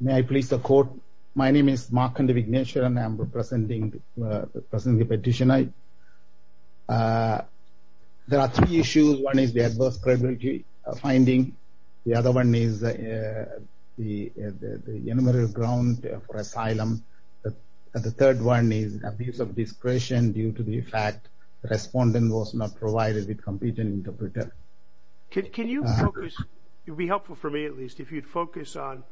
May I please support? My name is Mark Kandivigneshi and I am representing the petitioner. There are three issues. One is the adverse credibility finding. The other one is the enumerated grounds for asylum. The third one is abuse of discretion due to the fact the respondent was not provided a competent interpreter. Can you focus, it would be helpful for me at least, if you'd focus on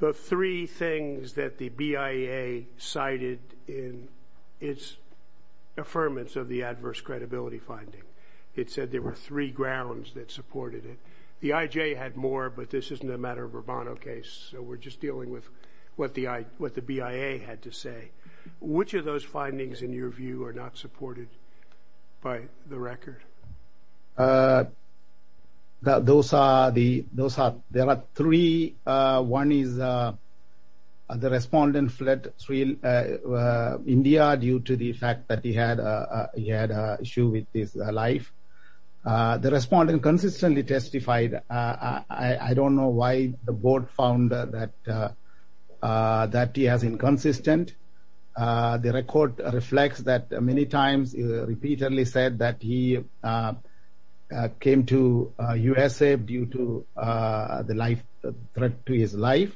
the three things that the BIA cited in its affirmance of the adverse credibility finding. It said there were three grounds that supported it. The IJ had more but this isn't a matter of a Bono case so we're just dealing with what the BIA had to say. Which of those findings in your view are not supported by the record? Those are the, those are, there are three. One is the respondent fled India due to the fact that he had a, he had a issue with his life. The respondent consistently testified. I don't know why the board found that, that he has inconsistent. The record reflects that many times he repeatedly said that he came to USA due to the life, threat to his life.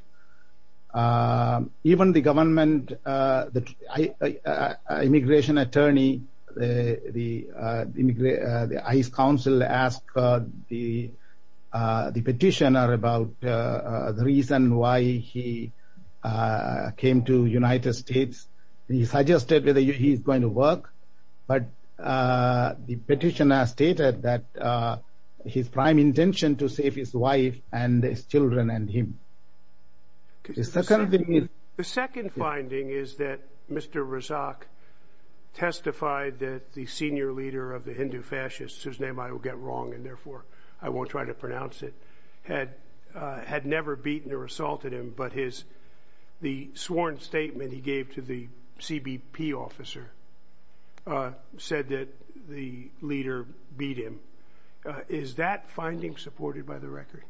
Even the government, the immigration attorney, the ICE counsel asked the petitioner about the reason why he came to United States. He suggested that he's going to work but the petitioner stated that his prime intention to save his wife and his children and him. The second finding is that Mr. Razak testified that the senior leader of the Hindu fascists, whose name I will get wrong and therefore I won't try to statement he gave to the CBP officer, said that the leader beat him. Is that finding supported by the record?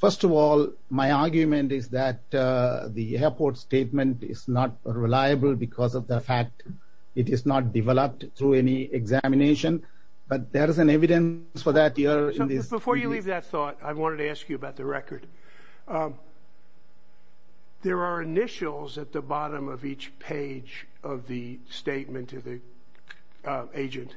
First of all, my argument is that the airport statement is not reliable because of the fact it is not developed through any examination but there is an evidence for that. Before you leave that thought, I wanted to ask you about the There are initials at the bottom of each page of the statement to the agent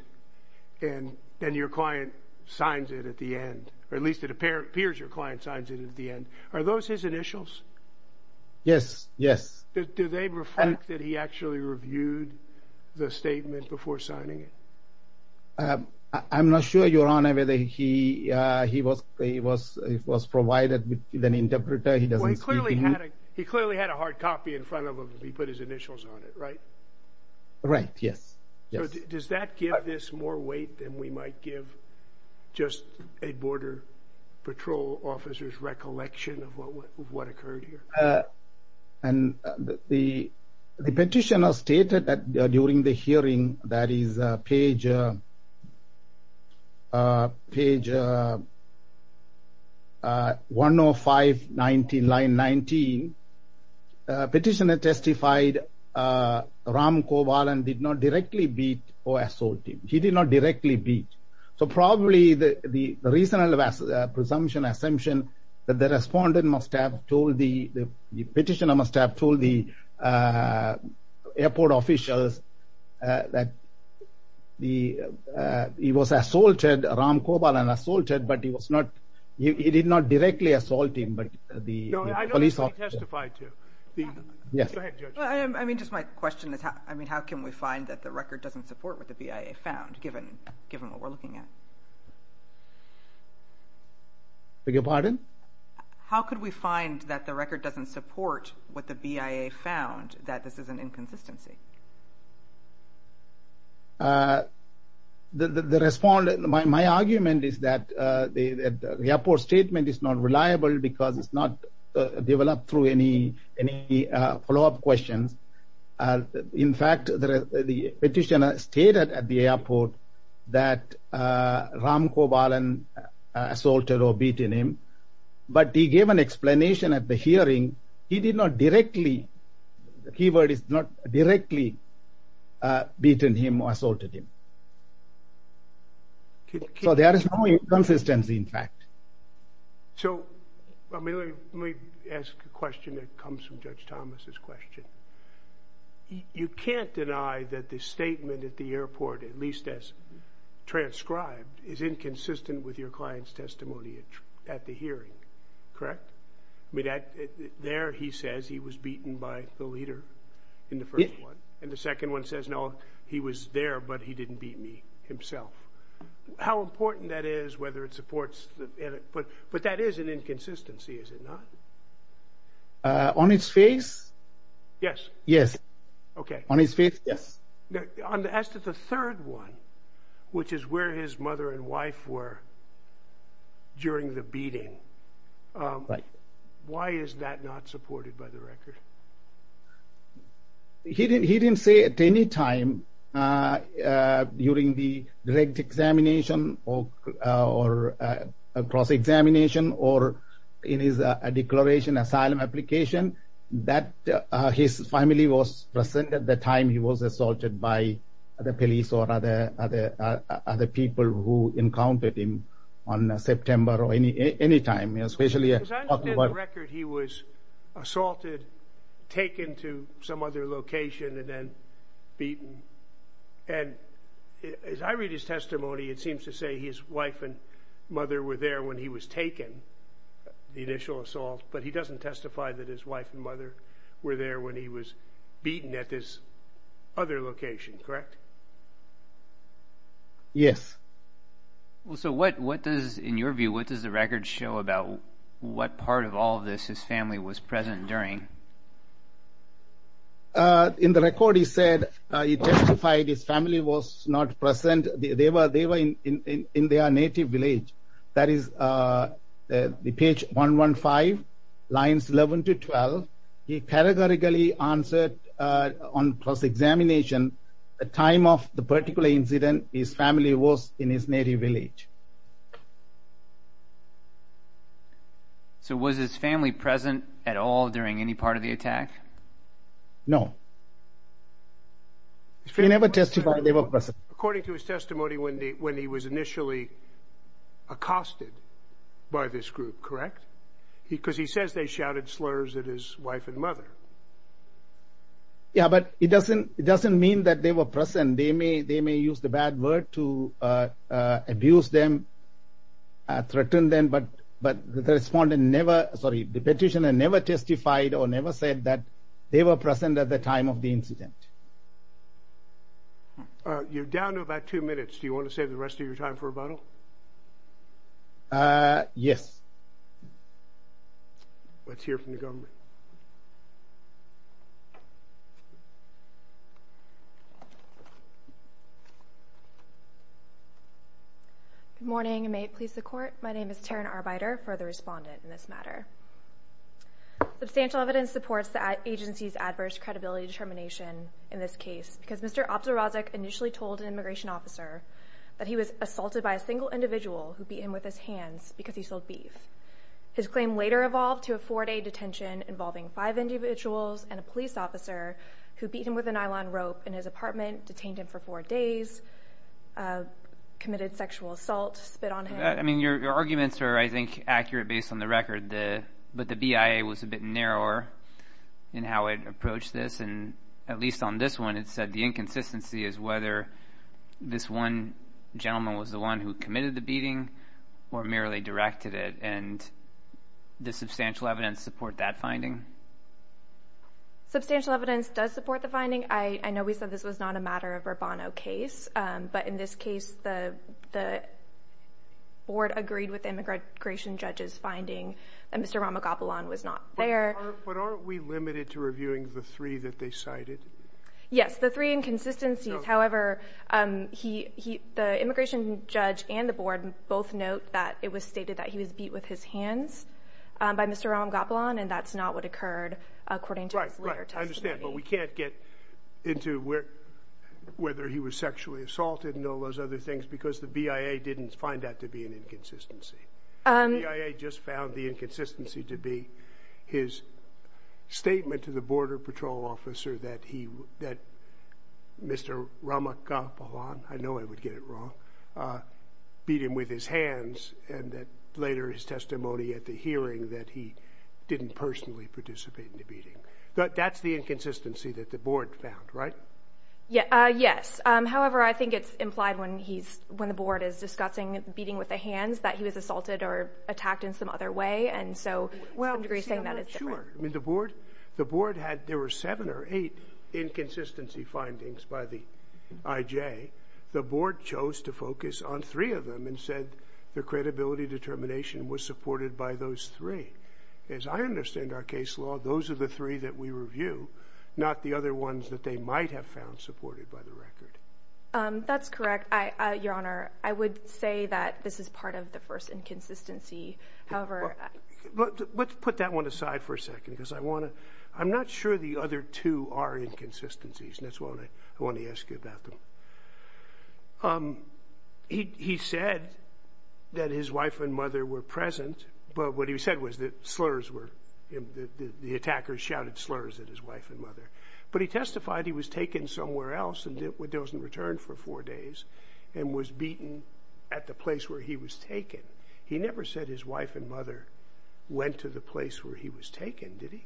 and then your client signs it at the end, or at least it appears your client signs it at the end. Are those his initials? Yes, yes. Do they reflect that he actually reviewed the statement before signing it? I'm not sure, your honor, whether he was provided with an interpreter. He clearly had a hard copy in front of him. He put his initials on it, right? Right, yes. Does that give this more weight than we might give just a border patrol officer's recollection of what occurred here? And the petitioner stated that during the hearing, that is page 105, line 19, petitioner testified Ram Kovalan did not directly beat or assault him. He did not directly beat. So probably the reasonable presumption, assumption that the petitioner must have told the airport officials that he was assaulted, Ram Kovalan assaulted, but he was not, he did not directly assault him. I don't know who he testified to. I mean, just my question is how can we find that the record doesn't support what the BIA found, given, given what we're looking at? Beg your pardon? How could we find that the record doesn't support what the BIA found, that this is an inconsistency? The respond, my argument is that the airport statement is not reliable because it's not developed through any, any follow up questions. In fact, the petitioner stated at the airport that Ram Kovalan assaulted or beaten him, but he gave an explanation at the hearing. He did not directly, the keyword is not directly beaten him or assaulted him. So there is no inconsistency in fact. So let me ask a question that comes from Judge Thomas's question. You can't deny that the statement at the airport, at least as transcribed, is inconsistent with your client's testimony at the hearing, correct? I mean, there he says he was beaten by the leader in the first one, and the second one says, no, he was assaulted. But that is an inconsistency, is it not? On his face? Yes. Yes. Okay. On his face, yes. As to the third one, which is where his mother and wife were there when he was assaulted, whether it was examination or in his declaration, asylum application, that his family was present at the time he was assaulted by the police or other people who encountered him on September or any time. As I understand the record, he was assaulted, taken to some other location and then beaten. And as I read his testimony, it seems to say his wife and mother were there when he was taken, the initial assault, but he doesn't testify that his wife and mother were there when he was beaten at this other location, correct? Yes. Well, so what does, in your view, what does the record show about what part of all of this his family was present during? In the record, he said he testified his family was not present. They were in their native village. That is the page 115, lines 11 to 12. He categorically answered on cross-examination, the time of the incident, the time of the incident, and the time of the incident. The time of the particular incident, his family was in his native village. So was his family present at all during any part of the attack? No. He never testified they were present. According to his testimony, when he was initially accosted by this group, correct? Because he says they shouted slurs at his wife and mother. Yeah, but it doesn't mean that they were present. They may use the bad word to abuse them, threaten them, but the petitioner never testified or never said that they were present at the time of the incident. You're down to about two minutes. Do you want to save the rest of your time for rebuttal? Yes. Let's hear from the government. Good morning. May it please the court. My name is Taryn Arbeiter for the respondent in this matter. Substantial evidence supports the agency's adverse credibility determination in this case because Mr. Optorazic initially told an immigration officer that he was assaulted by a single individual who beat him with his hands because he sold beef. His claim later evolved to a four-day detention involving five individuals and a police officer who beat him with a nylon rope in his apartment, detained him for four days, committed sexual assault, spit on him. I mean, your arguments are, I think, accurate based on the record, but the BIA was a bit narrower in how it approached this, and at least on this one it said the inconsistency is whether this one gentleman was the one who committed the beating or merely directed it, and does substantial evidence support that finding? Substantial evidence does support the finding. I know we said this was not a matter of a Bono case, but in this case the board agreed with the immigration judge's finding that Mr. Ramagopoulos was not there. But aren't we limited to reviewing the three that they cited? Yes, the three inconsistencies. However, the immigration judge and the board both note that it was stated that he was beat with his hands by Mr. Ramagopoulos, and that's not what occurred according to his later testimony. I understand, but we can't get into whether he was sexually assaulted and all those other things because the BIA didn't find that to be an inconsistency. The BIA just found the inconsistency to be his statement to the border patrol officer that Mr. Ramagopoulos, I know I would get it wrong, beat him with his hands, and that later his testimony at the hearing that he didn't personally participate in the beating. That's the inconsistency that the board found, right? Yes. However, I think it's implied when the board is discussing beating with the hands that he was assaulted or attacked in some other way, and so to some degree saying that is different. That's correct, Your Honor. I would say that this is part of the first inconsistency. Let's put that one aside for a second because I'm not sure the other two are inconsistencies, and that's why I want to ask you about them. He said that his wife and mother were present, but what he said was that the attackers shouted slurs at his wife and mother, but he testified he was taken somewhere else and wasn't returned for four days and was beaten at the place where he was taken. He never said his wife and mother went to the place where he was taken, did he?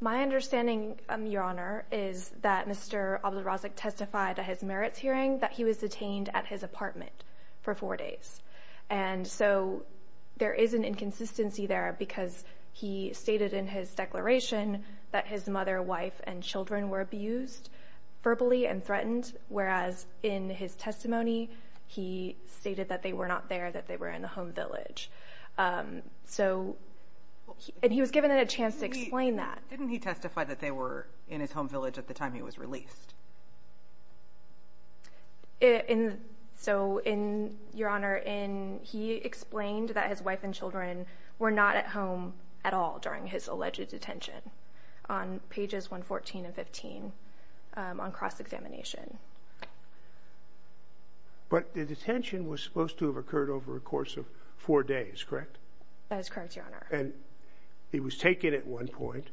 My understanding, Your Honor, is that Mr. Abdurazek testified at his merits hearing that he was detained at his apartment for four days, and so there is an inconsistency there because he stated in his declaration that his mother, wife, and children were abused verbally and threatened, whereas in his testimony he stated that they were not there, that they were in the home village. And he was given a chance to explain that. Didn't he testify that they were in his home village at the time he was released? So, Your Honor, he explained that his wife and children were not at home at all during his alleged detention on pages 114 and 115 on cross-examination. But the detention was supposed to have occurred over a course of four days, correct? That is correct, Your Honor. And he was taken at one point,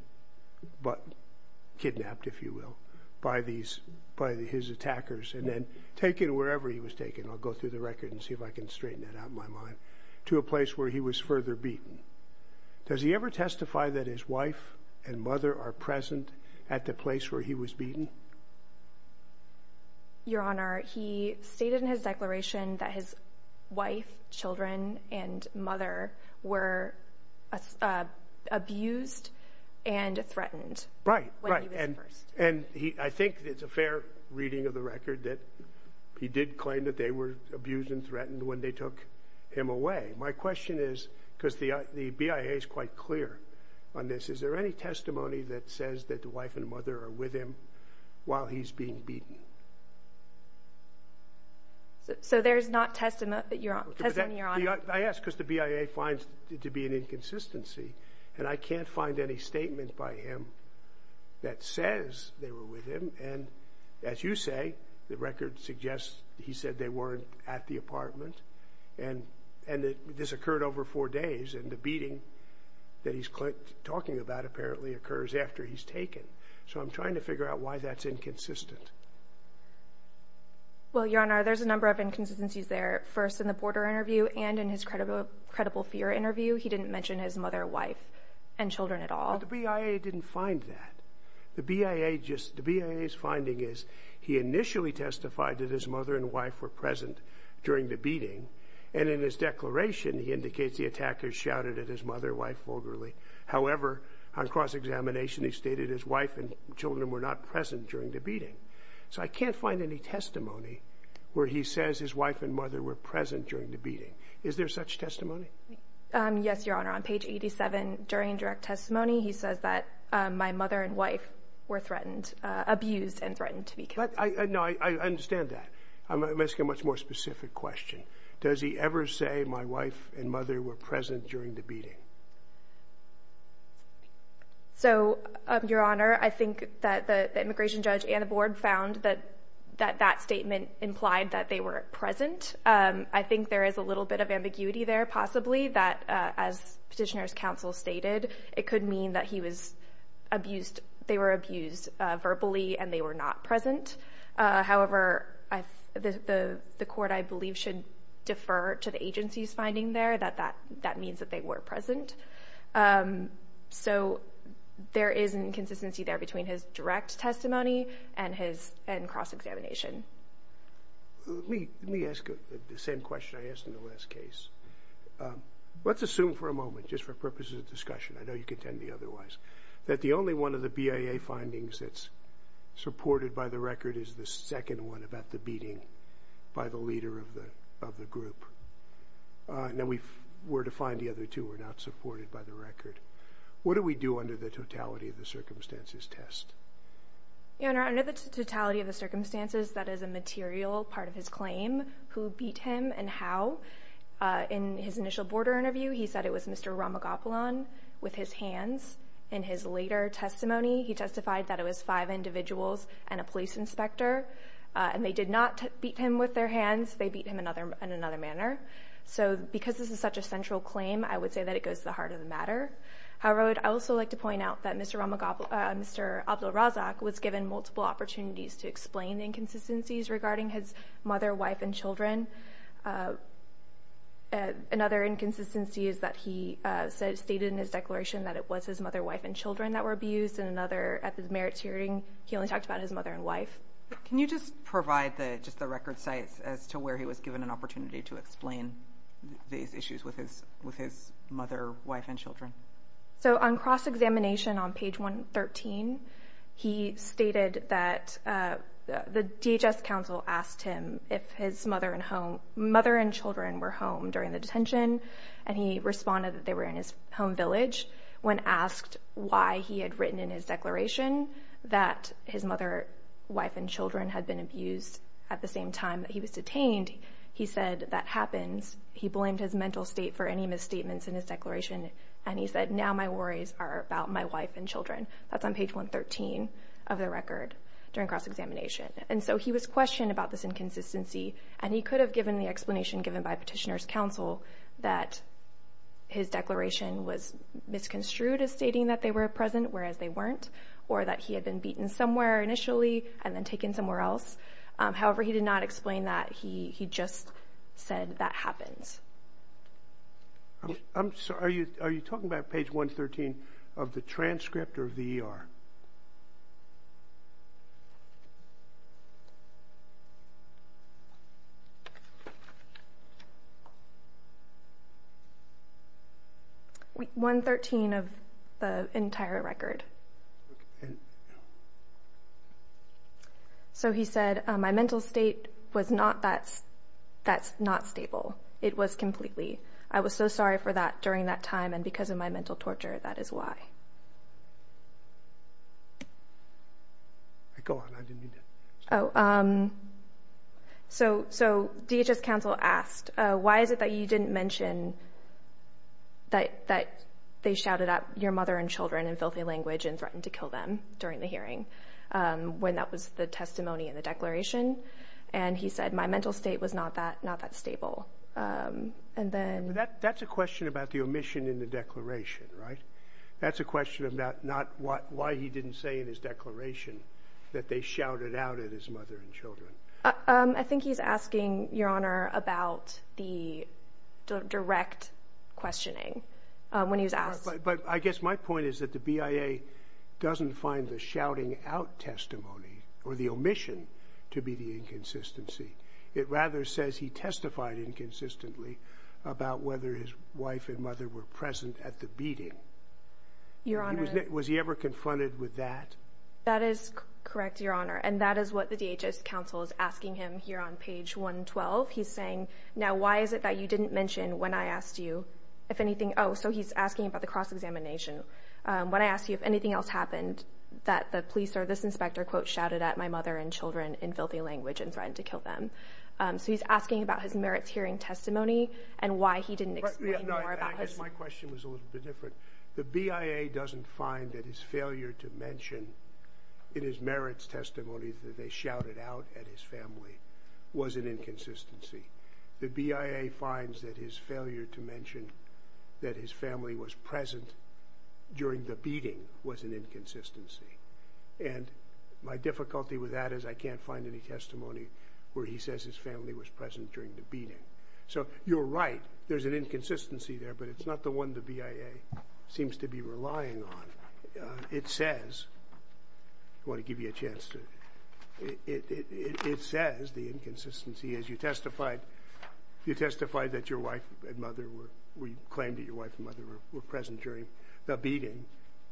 kidnapped if you will, by his attackers and then taken wherever he was taken, I'll go through the record and see if I can straighten that out in my mind, to a place where he was further beaten. Does he ever testify that his wife and mother are present at the place where he was beaten? Your Honor, he stated in his declaration that his wife, children, and mother were abused and threatened when he was first. And I think it's a fair reading of the record that he did claim that they were abused and threatened when they took him away. My question is, because the BIA is quite clear on this, is there any testimony that says that the wife and mother are with him while he's being beaten? So there's not testimony, Your Honor? Yes, because the BIA finds it to be an inconsistency. And I can't find any statement by him that says they were with him. And as you say, the record suggests he said they weren't at the apartment. And this occurred over four days. And the beating that he's talking about apparently occurs after he's taken. So I'm trying to figure out why that's inconsistent. Well, Your Honor, there's a number of inconsistencies there. First, in the border interview and in his credible fear interview, he didn't mention his mother, wife, and children at all. But the BIA didn't find that. The BIA's finding is he initially testified that his mother and wife were present during the beating. And in his declaration, he indicates the attacker shouted at his mother, wife, vulgarly. However, on cross-examination, he stated his wife and children were not present during the beating. So I can't find any testimony where he says his wife and mother were present during the beating. Yes, Your Honor. On page 87, during direct testimony, he says that my mother and wife were threatened, abused and threatened to be killed. No, I understand that. I'm asking a much more specific question. Does he ever say my wife and mother were present during the beating? So, Your Honor, I think that the immigration judge and the board found that that statement implied that they were present. I think there is a little bit of ambiguity there, possibly, that as Petitioner's Counsel stated, it could mean that he was abused, they were abused verbally and they were not present. However, the court, I believe, should defer to the agency's finding there that that means that they were present. So there is an inconsistency there between his direct testimony and his cross-examination. Let me ask the same question I asked in the last case. Let's assume for a moment, just for purposes of discussion, I know you can tell me otherwise, that the only one of the BIA findings that's supported by the record is the second one about the beating by the leader of the group. Now, we were to find the other two were not supported by the record. What do we do under the totality of the circumstances test? Your Honor, under the totality of the circumstances, that is a material part of his claim. Who beat him and how? In his initial border interview, he said it was Mr. Ramagopalan with his hands. In his later testimony, he testified that it was five individuals and a police inspector, and they did not beat him with their hands. They beat him in another manner. So because this is such a central claim, I would say that it goes to the heart of the matter. However, I would also like to point out that Mr. Abdul Razak was given multiple opportunities to explain inconsistencies regarding his mother, wife, and children. Another inconsistency is that he stated in his declaration that it was his mother, wife, and children that were abused. And another, at the merits hearing, he only talked about his mother and wife. Can you just provide just the record sites as to where he was given an opportunity to explain these issues with his mother, wife, and children? So on cross-examination on page 113, he stated that the DHS counsel asked him if his mother and children were home during the detention, and he responded that they were in his home village. When asked why he had written in his declaration that his mother, wife, and children had been abused at the same time that he was detained, he said that happens. He blamed his mental state for any misstatements in his declaration, and he said, now my worries are about my wife and children. That's on page 113 of the record during cross-examination. And so he was questioned about this inconsistency, and he could have given the explanation given by petitioner's counsel that his declaration was misconstrued as stating that they were present, whereas they weren't, or that he had been beaten somewhere initially and then taken somewhere else. However, he did not explain that. He just said that happens. I'm sorry. Are you talking about page 113 of the transcript or the ER? 113 of the entire record. Okay. So he said, my mental state was not that stable. It was completely. I was so sorry for that during that time, and because of my mental torture, that is why. Go on. I didn't mean to interrupt. So DHS counsel asked, why is it that you didn't mention that they shouted out your mother and children in filthy language and threatened to kill them during the hearing when that was the testimony in the declaration? And he said, my mental state was not that stable. That's a question about the omission in the declaration, right? That's a question about not why he didn't say in his declaration that they shouted out at his mother and children. I think he's asking, Your Honor, about the direct questioning when he was asked. But I guess my point is that the BIA doesn't find the shouting out testimony or the omission to be the inconsistency. It rather says he testified inconsistently about whether his wife and mother were present at the beating. Your Honor. Was he ever confronted with that? That is correct, Your Honor, and that is what the DHS counsel is asking him here on page 112. He's saying, now, why is it that you didn't mention when I asked you, if anything. Oh, so he's asking about the cross-examination. When I asked you if anything else happened, that the police or this inspector, quote, shouted at my mother and children in filthy language and threatened to kill them. So he's asking about his merits hearing testimony and why he didn't explain more about his. I guess my question was a little bit different. The BIA doesn't find that his failure to mention in his merits testimony that they shouted out at his family was an inconsistency. The BIA finds that his failure to mention that his family was present during the beating was an inconsistency. And my difficulty with that is I can't find any testimony where he says his family was present during the beating. So you're right, there's an inconsistency there, but it's not the one the BIA seems to be relying on. It says, I want to give you a chance to, it says the inconsistency is you testified that your wife and mother were, you claimed that your wife and mother were present during the beating,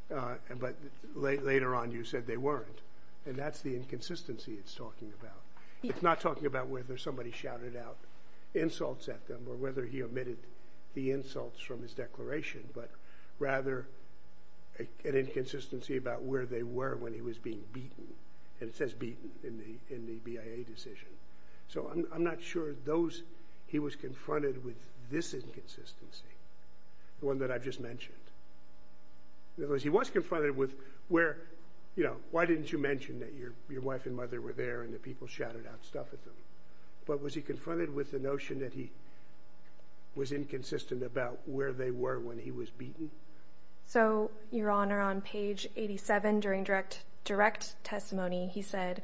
but later on you said they weren't. And that's the inconsistency it's talking about. It's not talking about whether somebody shouted out insults at them or whether he omitted the insults from his declaration, but rather an inconsistency about where they were when he was being beaten. And it says beaten in the BIA decision. So I'm not sure those, he was confronted with this inconsistency, the one that I've just mentioned. Because he was confronted with where, you know, why didn't you mention that your wife and mother were there and the people shouted out stuff at them. But was he confronted with the notion that he was inconsistent about where they were when he was beaten? So, Your Honor, on page 87 during direct testimony he said,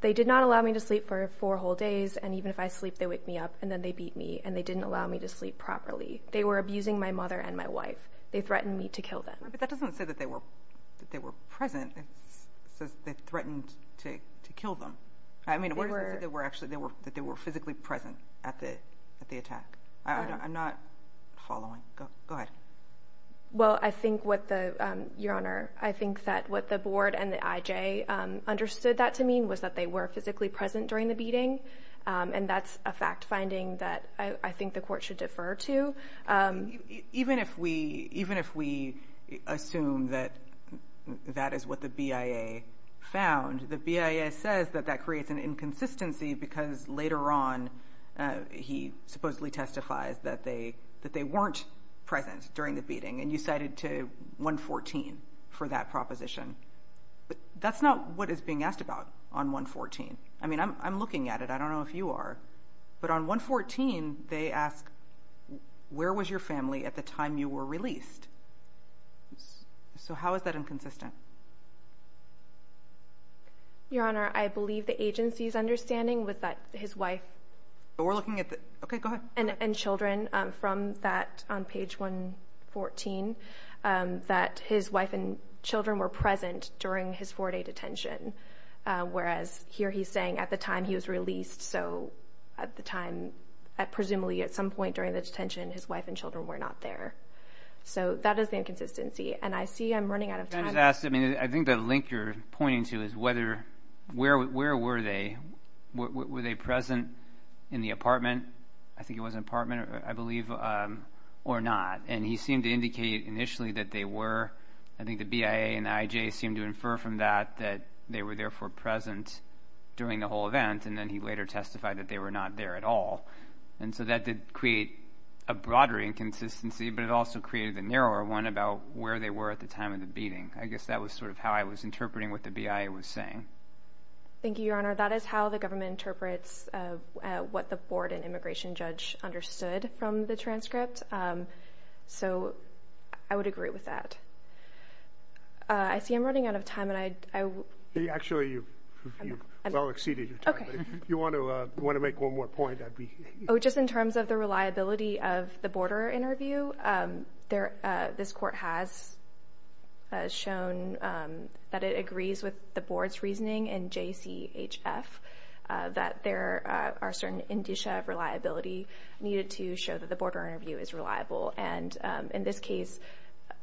they did not allow me to sleep for four whole days and even if I sleep they wake me up and then they beat me and they didn't allow me to sleep properly. They were abusing my mother and my wife. They threatened me to kill them. But that doesn't say that they were present. It says they threatened to kill them. I mean, what does it say that they were physically present at the attack? I'm not following. Go ahead. Well, I think what the, Your Honor, I think that what the board and the IJ understood that to mean was that they were physically present during the beating. And that's a fact finding that I think the court should defer to. Even if we assume that that is what the BIA found, the BIA says that that creates an inconsistency because later on he supposedly testifies that they weren't present during the beating and you cited to 114 for that proposition. That's not what is being asked about on 114. I mean, I'm looking at it. I don't know if you are. But on 114 they ask, where was your family at the time you were released? So how is that inconsistent? Your Honor, I believe the agency's understanding was that his wife and children from that on page 114, that his wife and children were present during his four-day detention. Whereas here he's saying at the time he was released, so at the time, presumably at some point during the detention, his wife and children were not there. So that is the inconsistency. And I see I'm running out of time. I think the link you're pointing to is where were they? Were they present in the apartment? I think it was an apartment, I believe, or not. And he seemed to indicate initially that they were. I think the BIA and the IJ seemed to infer from that that they were therefore present during the whole event. And then he later testified that they were not there at all. And so that did create a broader inconsistency, but it also created a narrower one about where they were at the time of the beating. I guess that was sort of how I was interpreting what the BIA was saying. Thank you, Your Honor. That is how the government interprets what the board and immigration judge understood from the transcript. So I would agree with that. I see I'm running out of time. Actually, you've well exceeded your time. If you want to make one more point. Just in terms of the reliability of the border interview, this court has shown that it agrees with the board's reasoning in JCHF that there are certain indicia of reliability needed to show that the border interview is reliable. And in this case,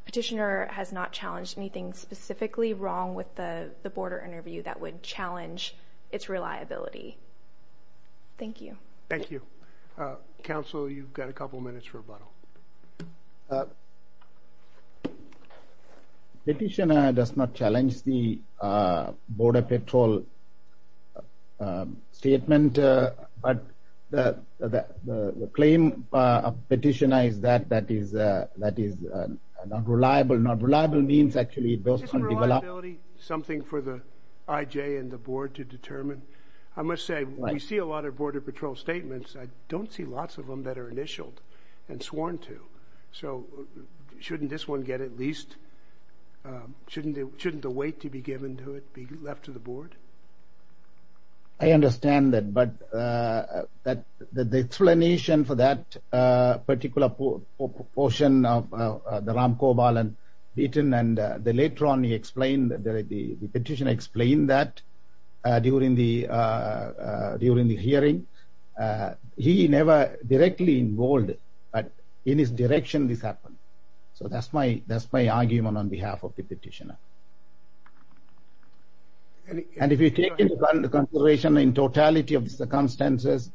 petitioner has not challenged anything specifically wrong with the border interview that would challenge its reliability. Thank you. Thank you. Counsel, you've got a couple of minutes for rebuttal. Petitioner does not challenge the border patrol statement, but the claim of petitioner is that that is not reliable. Not reliable means actually... Isn't reliability something for the IJ and the board to determine? I must say, we see a lot of border patrol statements. I don't see lots of them that are initialed and sworn to. So shouldn't this one get at least... Shouldn't the weight to be given to it be left to the board? I understand that. But the explanation for that particular portion of the Ram Kobol and Beaton and later on the petitioner explained that during the hearing, he never directly involved in his direction this happened. So that's my argument on behalf of the petitioner. And if you take into consideration in totality of the circumstances,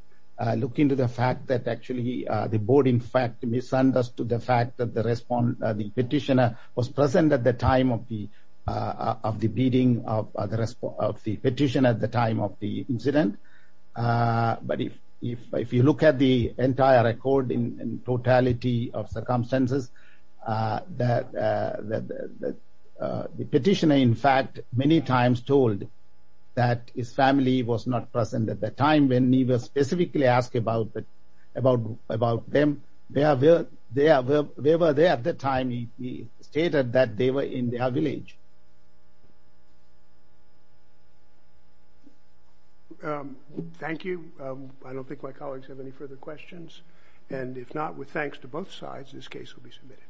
look into the fact that actually the board, in fact, misunderstood the fact that the petitioner was present at the time of the beating of the petitioner at the time of the incident. But if you look at the entire record in totality of circumstances, the petitioner, in fact, many times told that his family was not present at the time when he was specifically asked about them. They were there at the time he stated that they were in their village. Thank you. I don't think my colleagues have any further questions. And if not, with thanks to both sides, this case will be submitted.